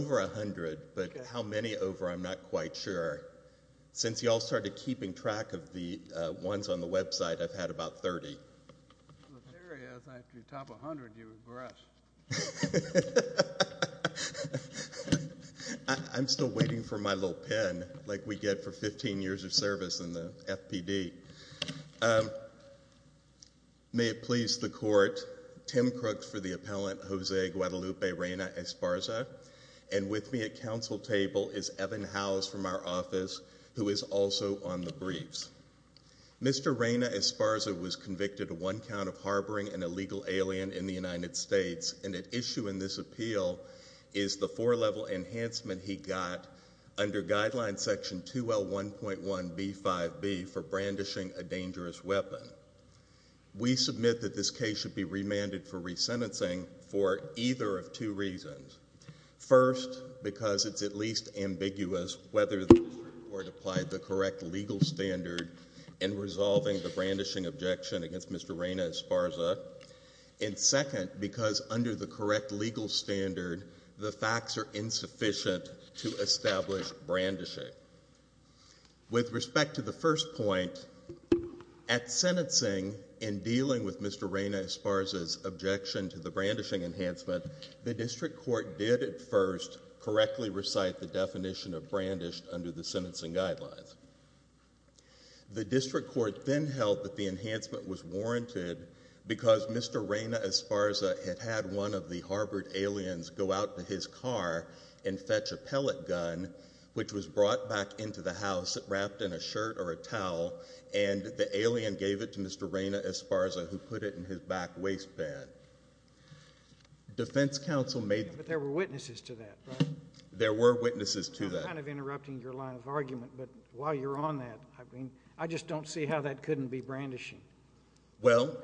over 100, but how many over I'm not quite sure. Since you all started keeping track of the ones on the website, I've had about 30. Well, there he is. After you top 100, you regress. I'm still waiting for my little pen, like we get for 15 years of service in the FPD. May it please the court, Tim Crooks for the appellant, Jose Guadalupe Reyna-Esparza, and with me at council table is Evan Howes from our office, who is also on the briefs. Mr. Reyna-Esparza was convicted of one count of harboring an illegal alien in the United States, and at issue in this appeal is the four-level enhancement he got under Guideline Section 2L1.1B5B for brandishing a dangerous weapon. We submit that this case should be remanded for resentencing for either of two reasons. First, because it's at least ambiguous whether the court applied the correct legal standard in resolving the brandishing objection against Mr. Reyna-Esparza, and second, because under the correct legal standard, the facts are insufficient to establish brandishing. With respect to the first point, at sentencing, in dealing with Mr. Reyna-Esparza's objection to the brandishing enhancement, the district court did at first correctly recite the definition of brandished under the sentencing guidelines. The district court then held that the enhancement was warranted because Mr. Reyna-Esparza had one of the harbored aliens go out to his car and fetch a pellet gun, which was brought back into the house, wrapped in a shirt or a towel, and the alien gave it to Mr. Reyna-Esparza, who put it in his back waistband. Defense counsel made... But there were witnesses to that, right? There were witnesses to that. I'm kind of interrupting your line of argument, but while you're on that, I mean, I just don't see how that couldn't be brandishing. Well,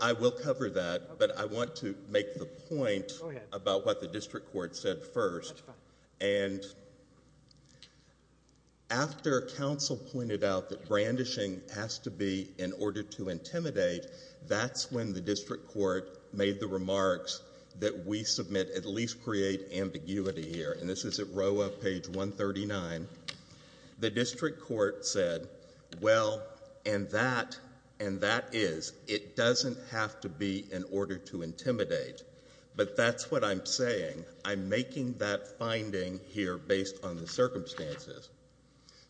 I will cover that, but I want to make the point about what the district court said first, and after counsel pointed out that brandishing has to be in order to intimidate, that's when the district court made the remarks that we submit at least create ambiguity here, and this is at row up, page 139. The district court said, well, and that is, it doesn't have to be in order to intimidate, but that's what I'm saying. I'm making that finding here based on the circumstances.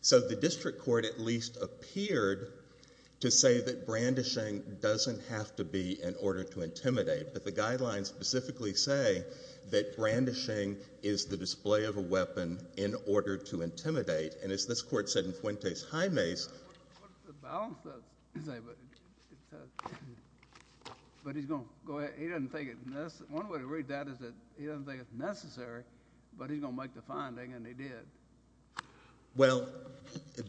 So the district court at least appeared to say that brandishing doesn't have to be in order to intimidate, but the guidelines specifically say that brandishing is the display of a weapon in order to intimidate, and as this court said in Fuentes-Jaimes... What does the balance say, but it says, but he's going to go ahead, he doesn't think it's necessary. One way to read that is that he doesn't think it's necessary, but he's going to make the finding, and he did. Well,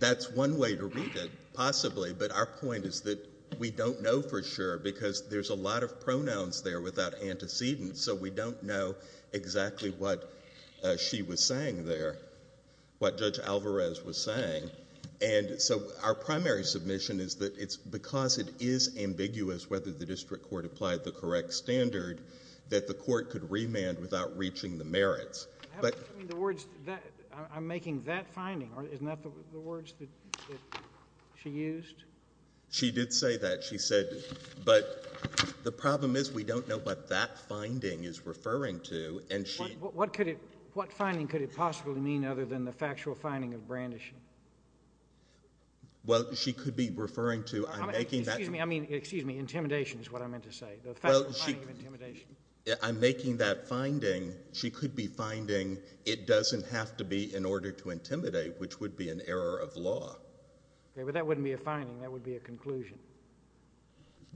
that's one way to read it, possibly, but our point is that we don't know for sure because there's a lot of pronouns there without antecedents, so we don't know exactly what she was saying there, what Judge Alvarez was saying, and so our primary submission is that it's because it is ambiguous whether the district court applied the correct standard that the court could remand without reaching the merits, but... I mean, the words, I'm making that finding, isn't that the words that she used? She did say that. She said, but the problem is we don't know what that finding is referring to, and she... What finding could it possibly mean other than the factual finding of brandishing? Well, she could be referring to... Excuse me, intimidation is what I meant to say, the finding of intimidation. I'm making that finding. She could be finding it doesn't have to be in order to intimidate, which would be an error of law. Okay, but that wouldn't be a finding, that would be a conclusion.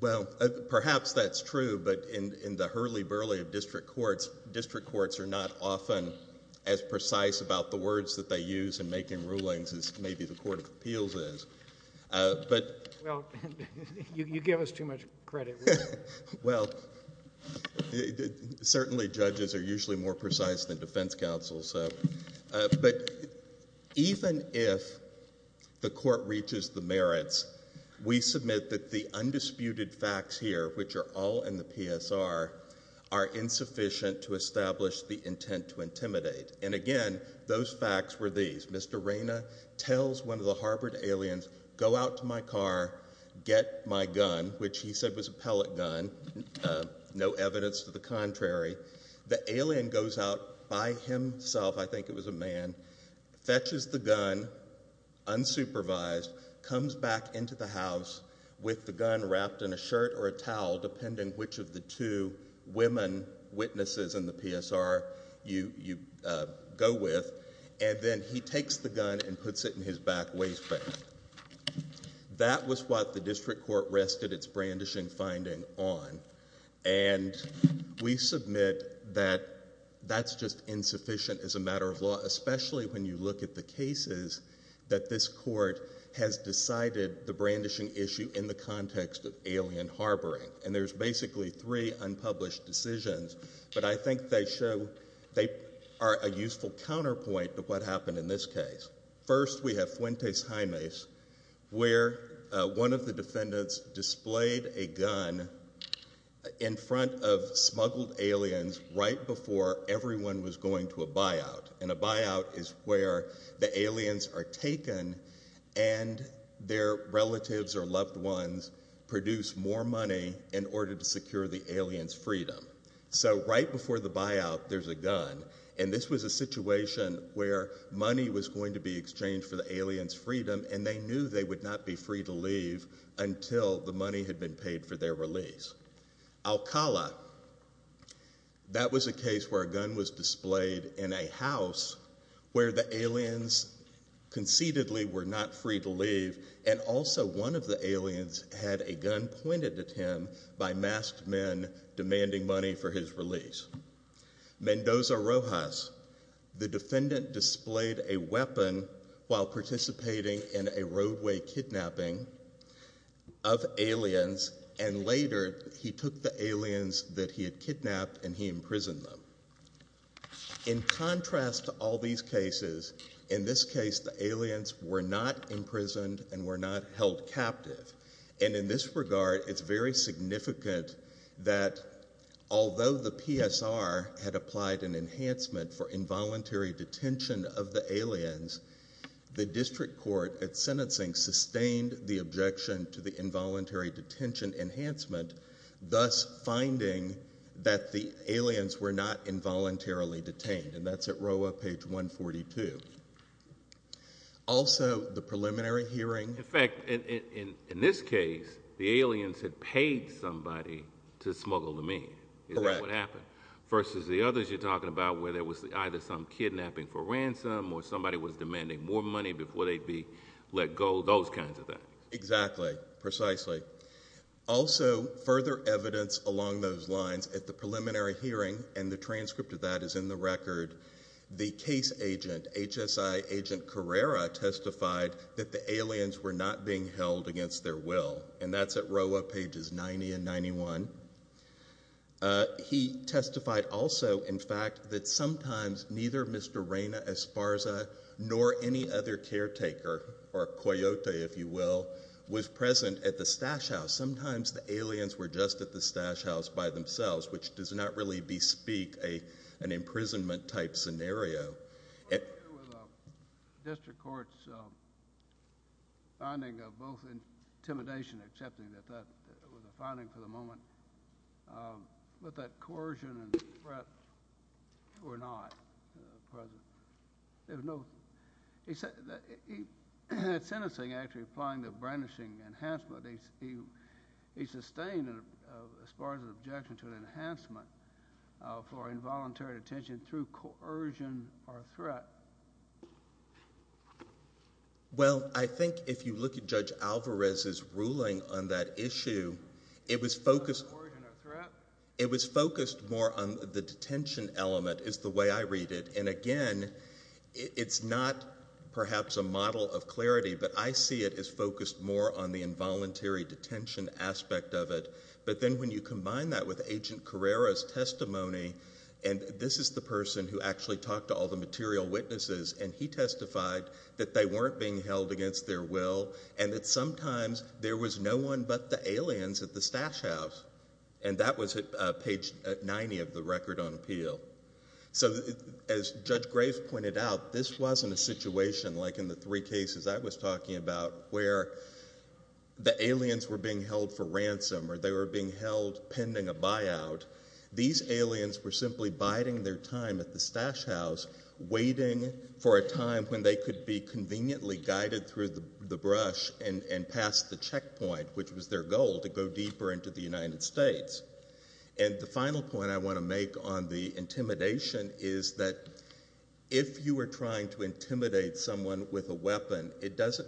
Well, perhaps that's true, but in the hurly-burly of district courts, district courts are not often as precise about the words that they use in making rulings as maybe the Court of Appeals is, but... Well, you give us too much credit. Well, certainly judges are usually more precise than defense counsels, but even if the court reaches the merits, we submit that the undisputed facts here, which are all in the PSR, are insufficient to establish the intent to intimidate, and again, those facts were these. Mr. Reyna tells one of the Harvard aliens, go out to my car, get my gun, which he said was a pellet gun, no evidence to the contrary. The alien goes out by himself, I think it was a man, fetches the gun, unsupervised, comes back into the house with the gun wrapped in a shirt or a towel, depending which of the two women witnesses in the PSR you go with, and then he takes the gun and puts it in his back waistband. That was what the district court rested its brandishing finding on, and we submit that that's just insufficient as a matter of law, especially when you look at the cases that this court has decided the brandishing issue in the context of alien harboring, and there's basically three unpublished decisions, but I think they show... they are a useful counterpoint to what happened in this case. First, we have Fuentes Jaimes, where one of the defendants displayed a gun in front of smuggled aliens right before everyone was going to a buyout, and a buyout is where the aliens are taken and their relatives or loved ones produce more money in order to secure the aliens' freedom. So right before the buyout, there's a gun, and this was a situation where money was going to be exchanged for the aliens' freedom, and they knew they would not be free to leave until the money had been paid for their release. Alcala, that was a case where a gun was displayed in a house where the aliens concededly were not free to leave, and also one of the aliens had a gun pointed at him by masked men demanding money for his release. Mendoza Rojas, the defendant displayed a weapon while participating in a roadway kidnapping of aliens, and later he took the aliens that he had kidnapped and he imprisoned them. In contrast to all these cases, in this case the aliens were not imprisoned and were not In fact, in this case, the aliens had paid somebody to smuggle the men, is that what happened? Versus the others you're talking about, where there was either some kidnapping for ransom or somebody was demanding more money before they'd be let go, those kinds of things. Exactly. Precisely. Also, further evidence along those lines, at the preliminary hearing, and the transcript of that is in the record, the case agent, HSI Agent Carrera, testified that the aliens were not being held against their will, and that's at ROA pages 90 and 91. He testified also, in fact, that sometimes neither Mr. Reyna Esparza nor any other caretaker, or coyote if you will, was present at the stash house. Sometimes the aliens were just at the stash house by themselves, which does not really bespeak an imprisonment type scenario. I'm here with a district court's finding of both intimidation, accepting that that was a finding for the moment, but that coercion and threat were not present. There was no, he said, that sentencing actually applying the brandishing enhancement, he sustained in Esparza's objection to an enhancement for involuntary detention through coercion or threat. Well, I think if you look at Judge Alvarez's ruling on that issue, it was focused more on the detention element, is the way I read it, and again, it's not perhaps a model of But then when you combine that with Agent Carrera's testimony, and this is the person who actually talked to all the material witnesses, and he testified that they weren't being held against their will, and that sometimes there was no one but the aliens at the stash house, and that was at page 90 of the record on appeal. As Judge Graves pointed out, this wasn't a situation like in the three cases I was talking about, where the aliens were being held for ransom, or they were being held pending a buyout. These aliens were simply biding their time at the stash house, waiting for a time when they could be conveniently guided through the brush and past the checkpoint, which was their goal, to go deeper into the United States. And the final point I want to make on the intimidation is that if you were trying to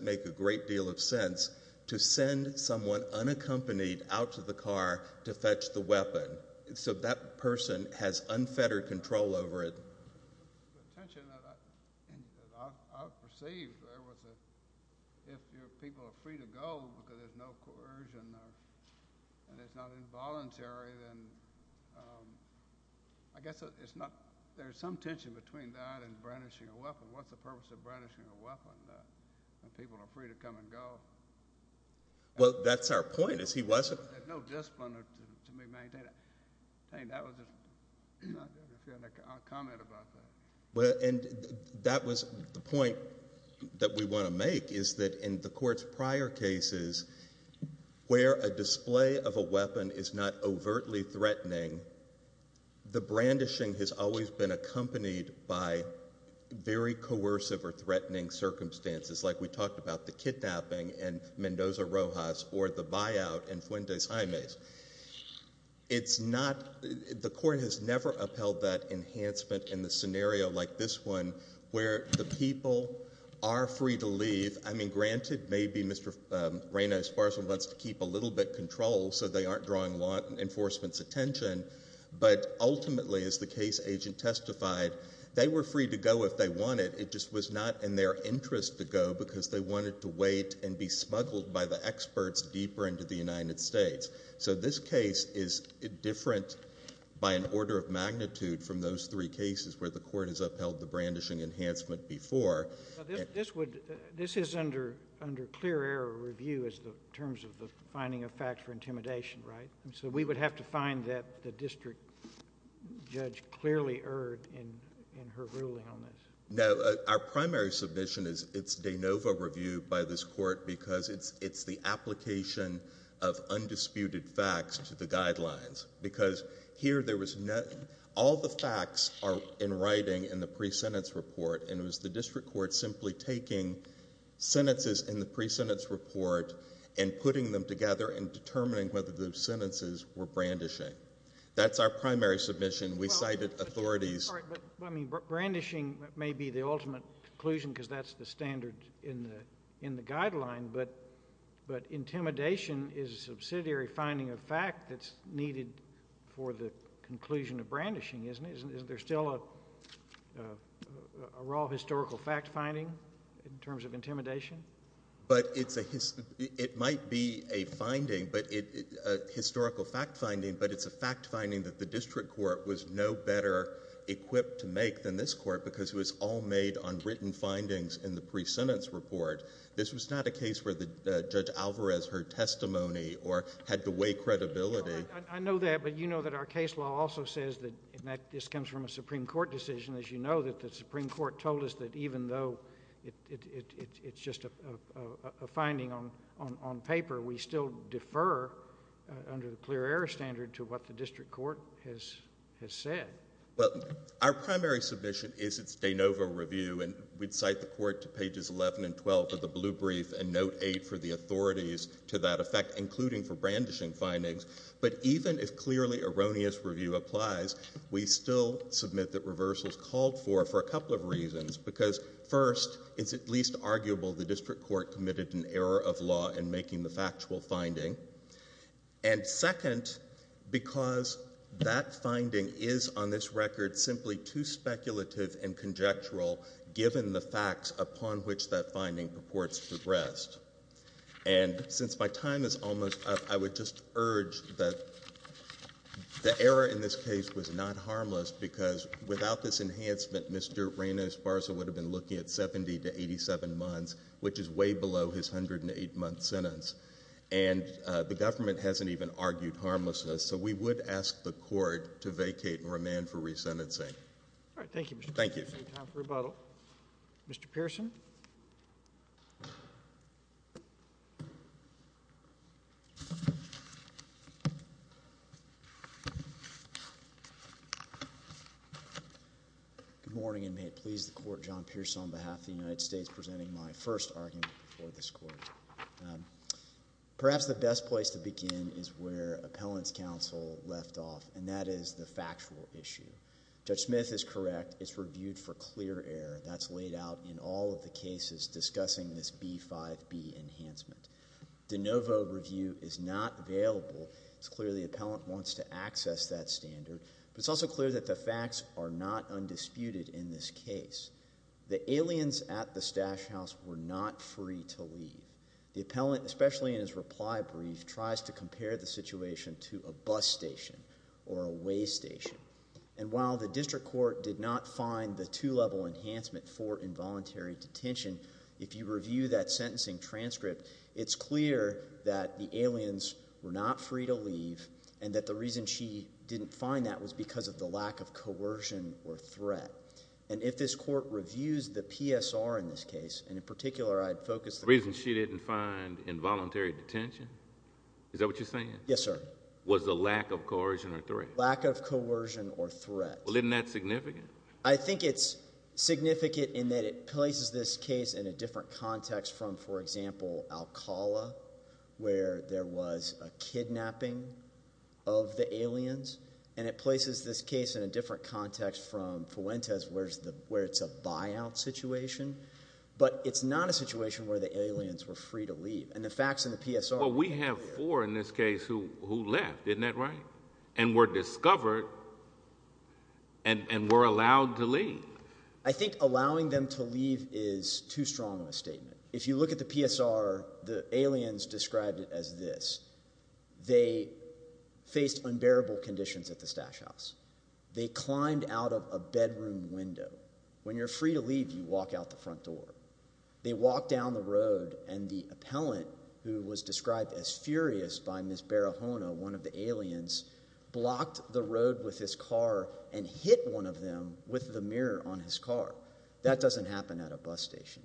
make a great deal of sense, to send someone unaccompanied out to the car to fetch the weapon, so that person has unfettered control over it. The tension that I perceived there was that if your people are free to go because there's no coercion, and it's not involuntary, then I guess it's not, there's some tension between that and brandishing a weapon. What's the purpose of brandishing a weapon? When people are free to come and go. Well, that's our point, is he wasn't... He had no discipline to maintain it. I think that was his comment about that. And that was the point that we want to make, is that in the Court's prior cases, where a display of a weapon is not overtly threatening, the brandishing has always been accompanied by very coercive or threatening circumstances. Like we talked about the kidnapping in Mendoza Rojas, or the buyout in Fuentes Jaimes. It's not... The Court has never upheld that enhancement in the scenario like this one, where the people are free to leave. I mean, granted, maybe Mr. Reyna Esparza wants to keep a little bit of control so they aren't drawing enforcement's attention, but ultimately, as the case agent testified, they were free to go if they wanted, it just was not in their interest to go because they wanted to wait and be smuggled by the experts deeper into the United States. So this case is different by an order of magnitude from those three cases where the Court has upheld the brandishing enhancement before. This is under clear error review in terms of the finding of facts for intimidation, right? So we would have to find that the district judge clearly erred in her ruling on this? No. Our primary submission is it's de novo review by this Court because it's the application of undisputed facts to the guidelines. Because here, all the facts are in writing in the pre-sentence report, and it was the Court simply taking sentences in the pre-sentence report and putting them together and determining whether those sentences were brandishing. That's our primary submission. We cited authorities. All right. But, I mean, brandishing may be the ultimate conclusion because that's the standard in the guideline, but intimidation is a subsidiary finding of fact that's needed for the conclusion of brandishing, isn't it? Isn't there still a raw historical fact finding in terms of intimidation? But it might be a finding, a historical fact finding, but it's a fact finding that the district court was no better equipped to make than this Court because it was all made on written findings in the pre-sentence report. This was not a case where Judge Alvarez heard testimony or had to weigh credibility. All right. I know that, but you know that our case law also says that this comes from a Supreme Court decision, as you know, that the Supreme Court told us that even though it's just a finding on paper, we still defer under the clear error standard to what the district court has said. Well, our primary submission is its de novo review, and we'd cite the Court to pages 11 and 12 of the blue brief and note 8 for the authorities to that effect, including for But even if clearly erroneous review applies, we still submit that reversal is called for for a couple of reasons, because first, it's at least arguable the district court committed an error of law in making the factual finding, and second, because that finding is on this record simply too speculative and conjectural given the facts upon which that finding purports to rest. And since my time is almost up, I would just urge that the error in this case was not harmless because without this enhancement, Mr. Reynos-Barza would have been looking at 70 to 87 months, which is way below his 108-month sentence, and the government hasn't even argued harmlessness, so we would ask the Court to vacate and remand for resentencing. All right. Thank you, Mr. Pearson. Thank you. Time for rebuttal. Mr. Pearson? Good morning, and may it please the Court, John Pearson on behalf of the United States presenting my first argument before this Court. Perhaps the best place to begin is where appellant's counsel left off, and that is the factual issue. Judge Smith is correct. It's reviewed for clear error. That's laid out in all of the cases discussing this B-5B enhancement. De novo review is not available. It's clear the appellant wants to access that standard, but it's also clear that the facts are not undisputed in this case. The aliens at the stash house were not free to leave. The appellant, especially in his reply brief, tries to compare the situation to a bus station or a way station. And while the district court did not find the two-level enhancement for involuntary detention, if you review that sentencing transcript, it's clear that the aliens were not free to leave and that the reason she didn't find that was because of the lack of coercion or threat. And if this Court reviews the PSR in this case, and in particular, I'd focus... The reason she didn't find involuntary detention, is that what you're saying? Yes, sir. Was the lack of coercion or threat? Lack of coercion or threat. Well, isn't that significant? I think it's significant in that it places this case in a different context from, for example, Alcala, where there was a kidnapping of the aliens. And it places this case in a different context from Fuentes, where it's a buyout situation. But it's not a situation where the aliens were free to leave. And the facts in the PSR... Well, we have four, in this case, who left, isn't that right? And were discovered and were allowed to leave. I think allowing them to leave is too strong of a statement. If you look at the PSR, the aliens described it as this. They faced unbearable conditions at the stash house. They climbed out of a bedroom window. When you're free to leave, you walk out the front door. They walked down the road and the appellant, who was described as furious by Ms. Barahona, one of the aliens, blocked the road with his car and hit one of them with the mirror on his car. That doesn't happen at a bus station.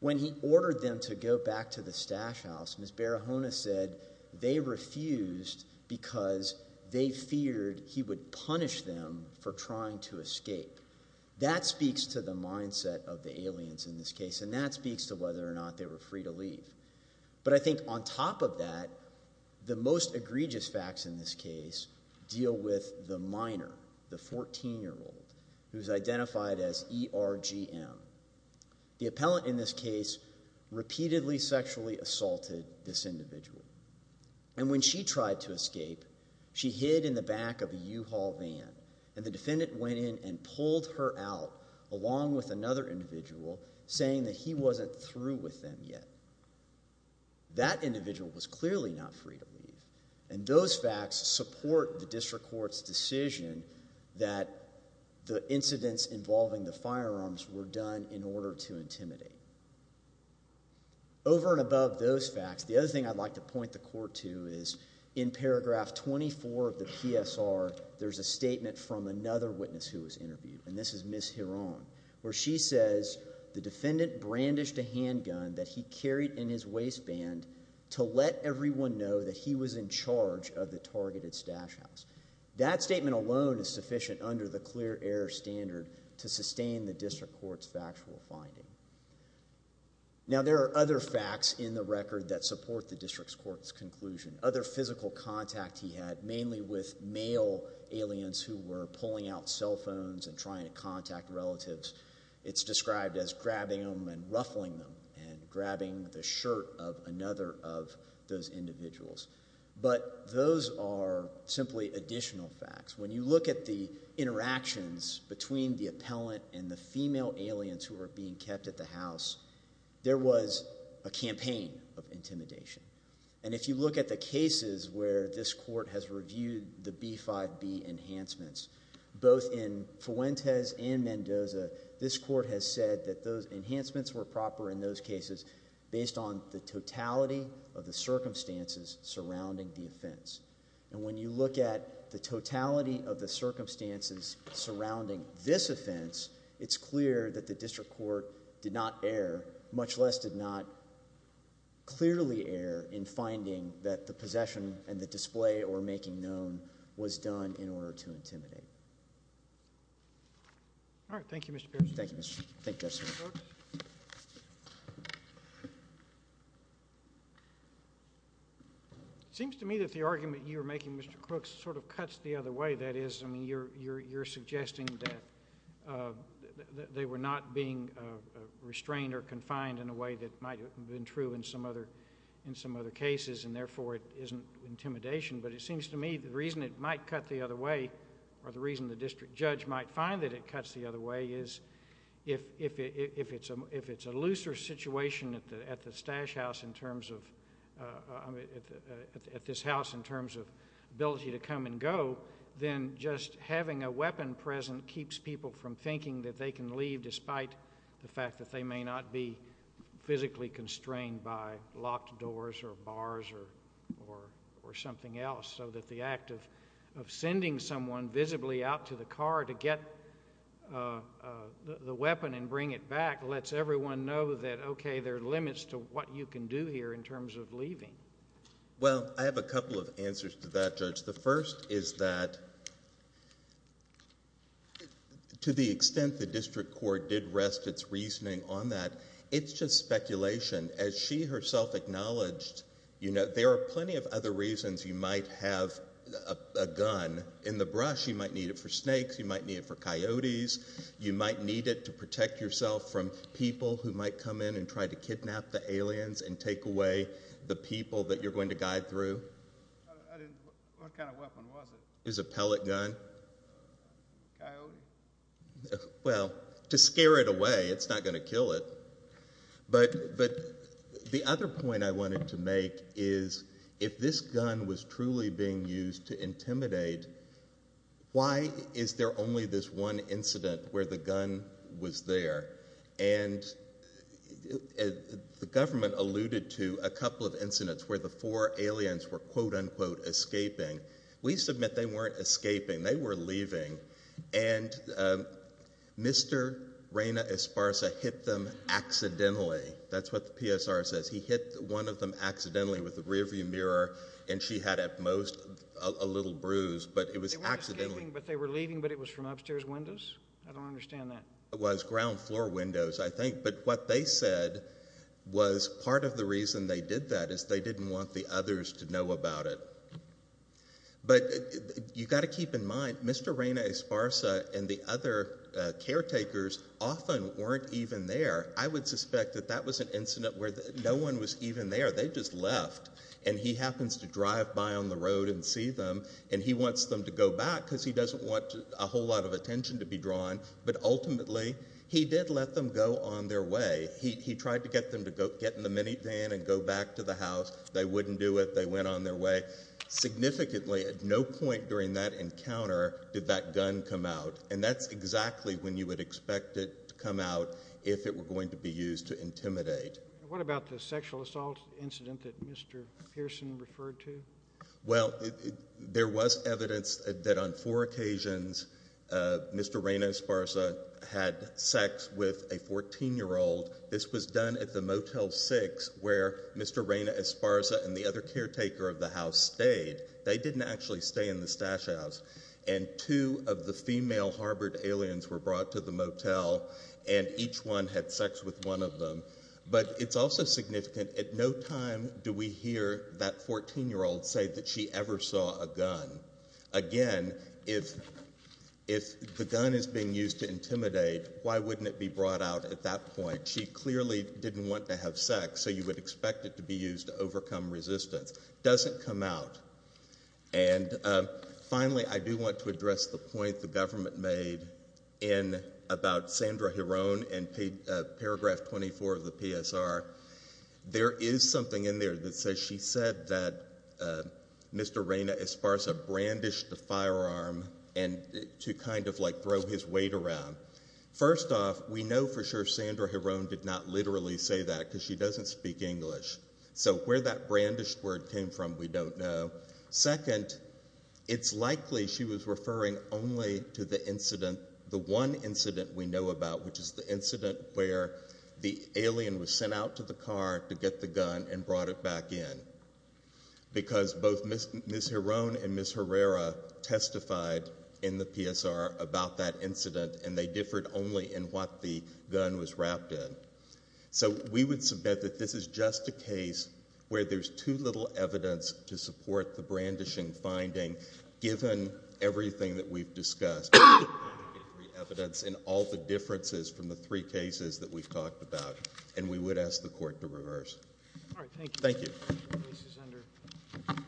When he ordered them to go back to the stash house, Ms. Barahona said they refused because they feared he would punish them for trying to escape. That speaks to the mindset of the aliens in this case. And that speaks to whether or not they were free to leave. But I think on top of that, the most egregious facts in this case deal with the minor, the 14-year-old, who's identified as ERGM. The appellant in this case repeatedly sexually assaulted this individual. And when she tried to escape, she hid in the back of a U-Haul van and the defendant went in and pulled her out, along with another individual, saying that he wasn't through with them yet. That individual was clearly not free to leave. And those facts support the district court's decision that the incidents involving the firearms were done in order to intimidate. Over and above those facts, the other thing I'd like to point the court to is in paragraph 24 of the PSR, there's a statement from another witness who was interviewed. And this is Ms. Heron, where she says, the defendant brandished a handgun that he carried in his waistband to let everyone know that he was in charge of the targeted stash house. That statement alone is sufficient under the clear error standard to sustain the district court's factual finding. Now there are other facts in the record that support the district court's conclusion. Other physical contact he had, mainly with male aliens who were pulling out cell phones and trying to contact relatives, it's described as grabbing them and ruffling them and grabbing the shirt of another of those individuals. But those are simply additional facts. When you look at the interactions between the appellant and the female aliens who were being kept at the house, there was a campaign of intimidation. And if you look at the cases where this court has reviewed the B-5B enhancements, both in Fuentes and Mendoza, this court has said that those enhancements were proper in those cases based on the totality of the circumstances surrounding the offense. And when you look at the totality of the circumstances surrounding this offense, it's clear that the district court did not err, much less did not clearly err in finding that the possession and the display or making known was done in order to intimidate. All right, thank you, Mr. Pearson. Thank you, Mr. Chief. Thank you, Justice Crooks. Seems to me that the argument you're making, Mr. Crooks, sort of cuts the other way. That is, I mean, you're suggesting that they were not being restrained or confined in a way that might have been true in some other cases and therefore it isn't intimidation. But it seems to me the reason it might cut the other way or the reason the district judge might find that it cuts the other way is if it's a looser situation at the stash house in terms of, at this house in terms of ability to come and go, then just having a weapon present keeps people from thinking that they can leave despite the fact that they may not be physically constrained by locked doors or bars or something else. So that the act of sending someone visibly out to the car to get the weapon and bring it back lets everyone know that, okay, there are limits to what you can do here in terms of leaving. Well, I have a couple of answers to that, Judge. The first is that to the extent the district court did rest its reasoning on that, it's just speculation. As she herself acknowledged, there are plenty of other reasons you might have a gun. In the brush, you might need it for snakes, you might need it for coyotes, you might need it to protect yourself from people who might come in and try to kidnap the aliens and take away the people that you're going to guide through. What kind of weapon was it? It was a pellet gun. Coyote? Well, to scare it away. It's not going to kill it. But the other point I wanted to make is if this gun was truly being used to intimidate, why is there only this one incident where the gun was there? The government alluded to a couple of incidents where the four aliens were, quote, unquote, escaping. We submit they weren't escaping, they were leaving. Mr. Reyna Esparza hit them accidentally. That's what the PSR says. He hit one of them accidentally with a rear view mirror and she had at most a little bruise but it was accidental. They weren't escaping but they were leaving but it was from upstairs windows? I don't understand that. It was ground floor windows, I think. But what they said was part of the reason they did that is they didn't want the others to know about it. But you've got to keep in mind, Mr. Reyna Esparza and the other caretakers often weren't even there. I would suspect that that was an incident where no one was even there. They just left. And he happens to drive by on the road and see them. And he wants them to go back because he doesn't want a whole lot of attention to be drawn. But ultimately, he did let them go on their way. He tried to get them to get in the minivan and go back to the house. They wouldn't do it. They went on their way. Significantly, at no point during that encounter did that gun come out. And that's exactly when you would expect it to come out if it were going to be used to intimidate. What about the sexual assault incident that Mr. Pearson referred to? Well, there was evidence that on four occasions, Mr. Reyna Esparza had sex with a 14-year-old. This was done at the Motel 6 where Mr. Reyna Esparza and the other caretaker of the house stayed. They didn't actually stay in the stash house. And two of the female Harvard aliens were brought to the motel. And each one had sex with one of them. But it's also significant. At no time do we hear that 14-year-old say that she ever saw a gun. Again, if the gun is being used to intimidate, why wouldn't it be brought out at that point? She clearly didn't want to have sex, so you would expect it to be used to overcome resistance. Doesn't come out. And finally, I do want to address the point the government made in about Sandra Heron in paragraph 24 of the PSR. There is something in there that says she said that Mr. Reyna Esparza brandished the firearm and to kind of like throw his weight around. First off, we know for sure Sandra Heron did not literally say that because she doesn't speak English. So where that brandished word came from, we don't know. Second, it's likely she was referring only to the incident, the one incident we know about, which is the incident where the alien was sent out to the car to get the gun and brought it back in. Because both Ms. Heron and Ms. Herrera testified in the PSR about that incident and they differed only in what the gun was wrapped in. So we would submit that this is just a case where there's too little evidence to support the brandishing finding, given everything that we've discussed. And all the differences from the three cases that we've talked about. And we would ask the court to reverse. All right, thank you. Thank you.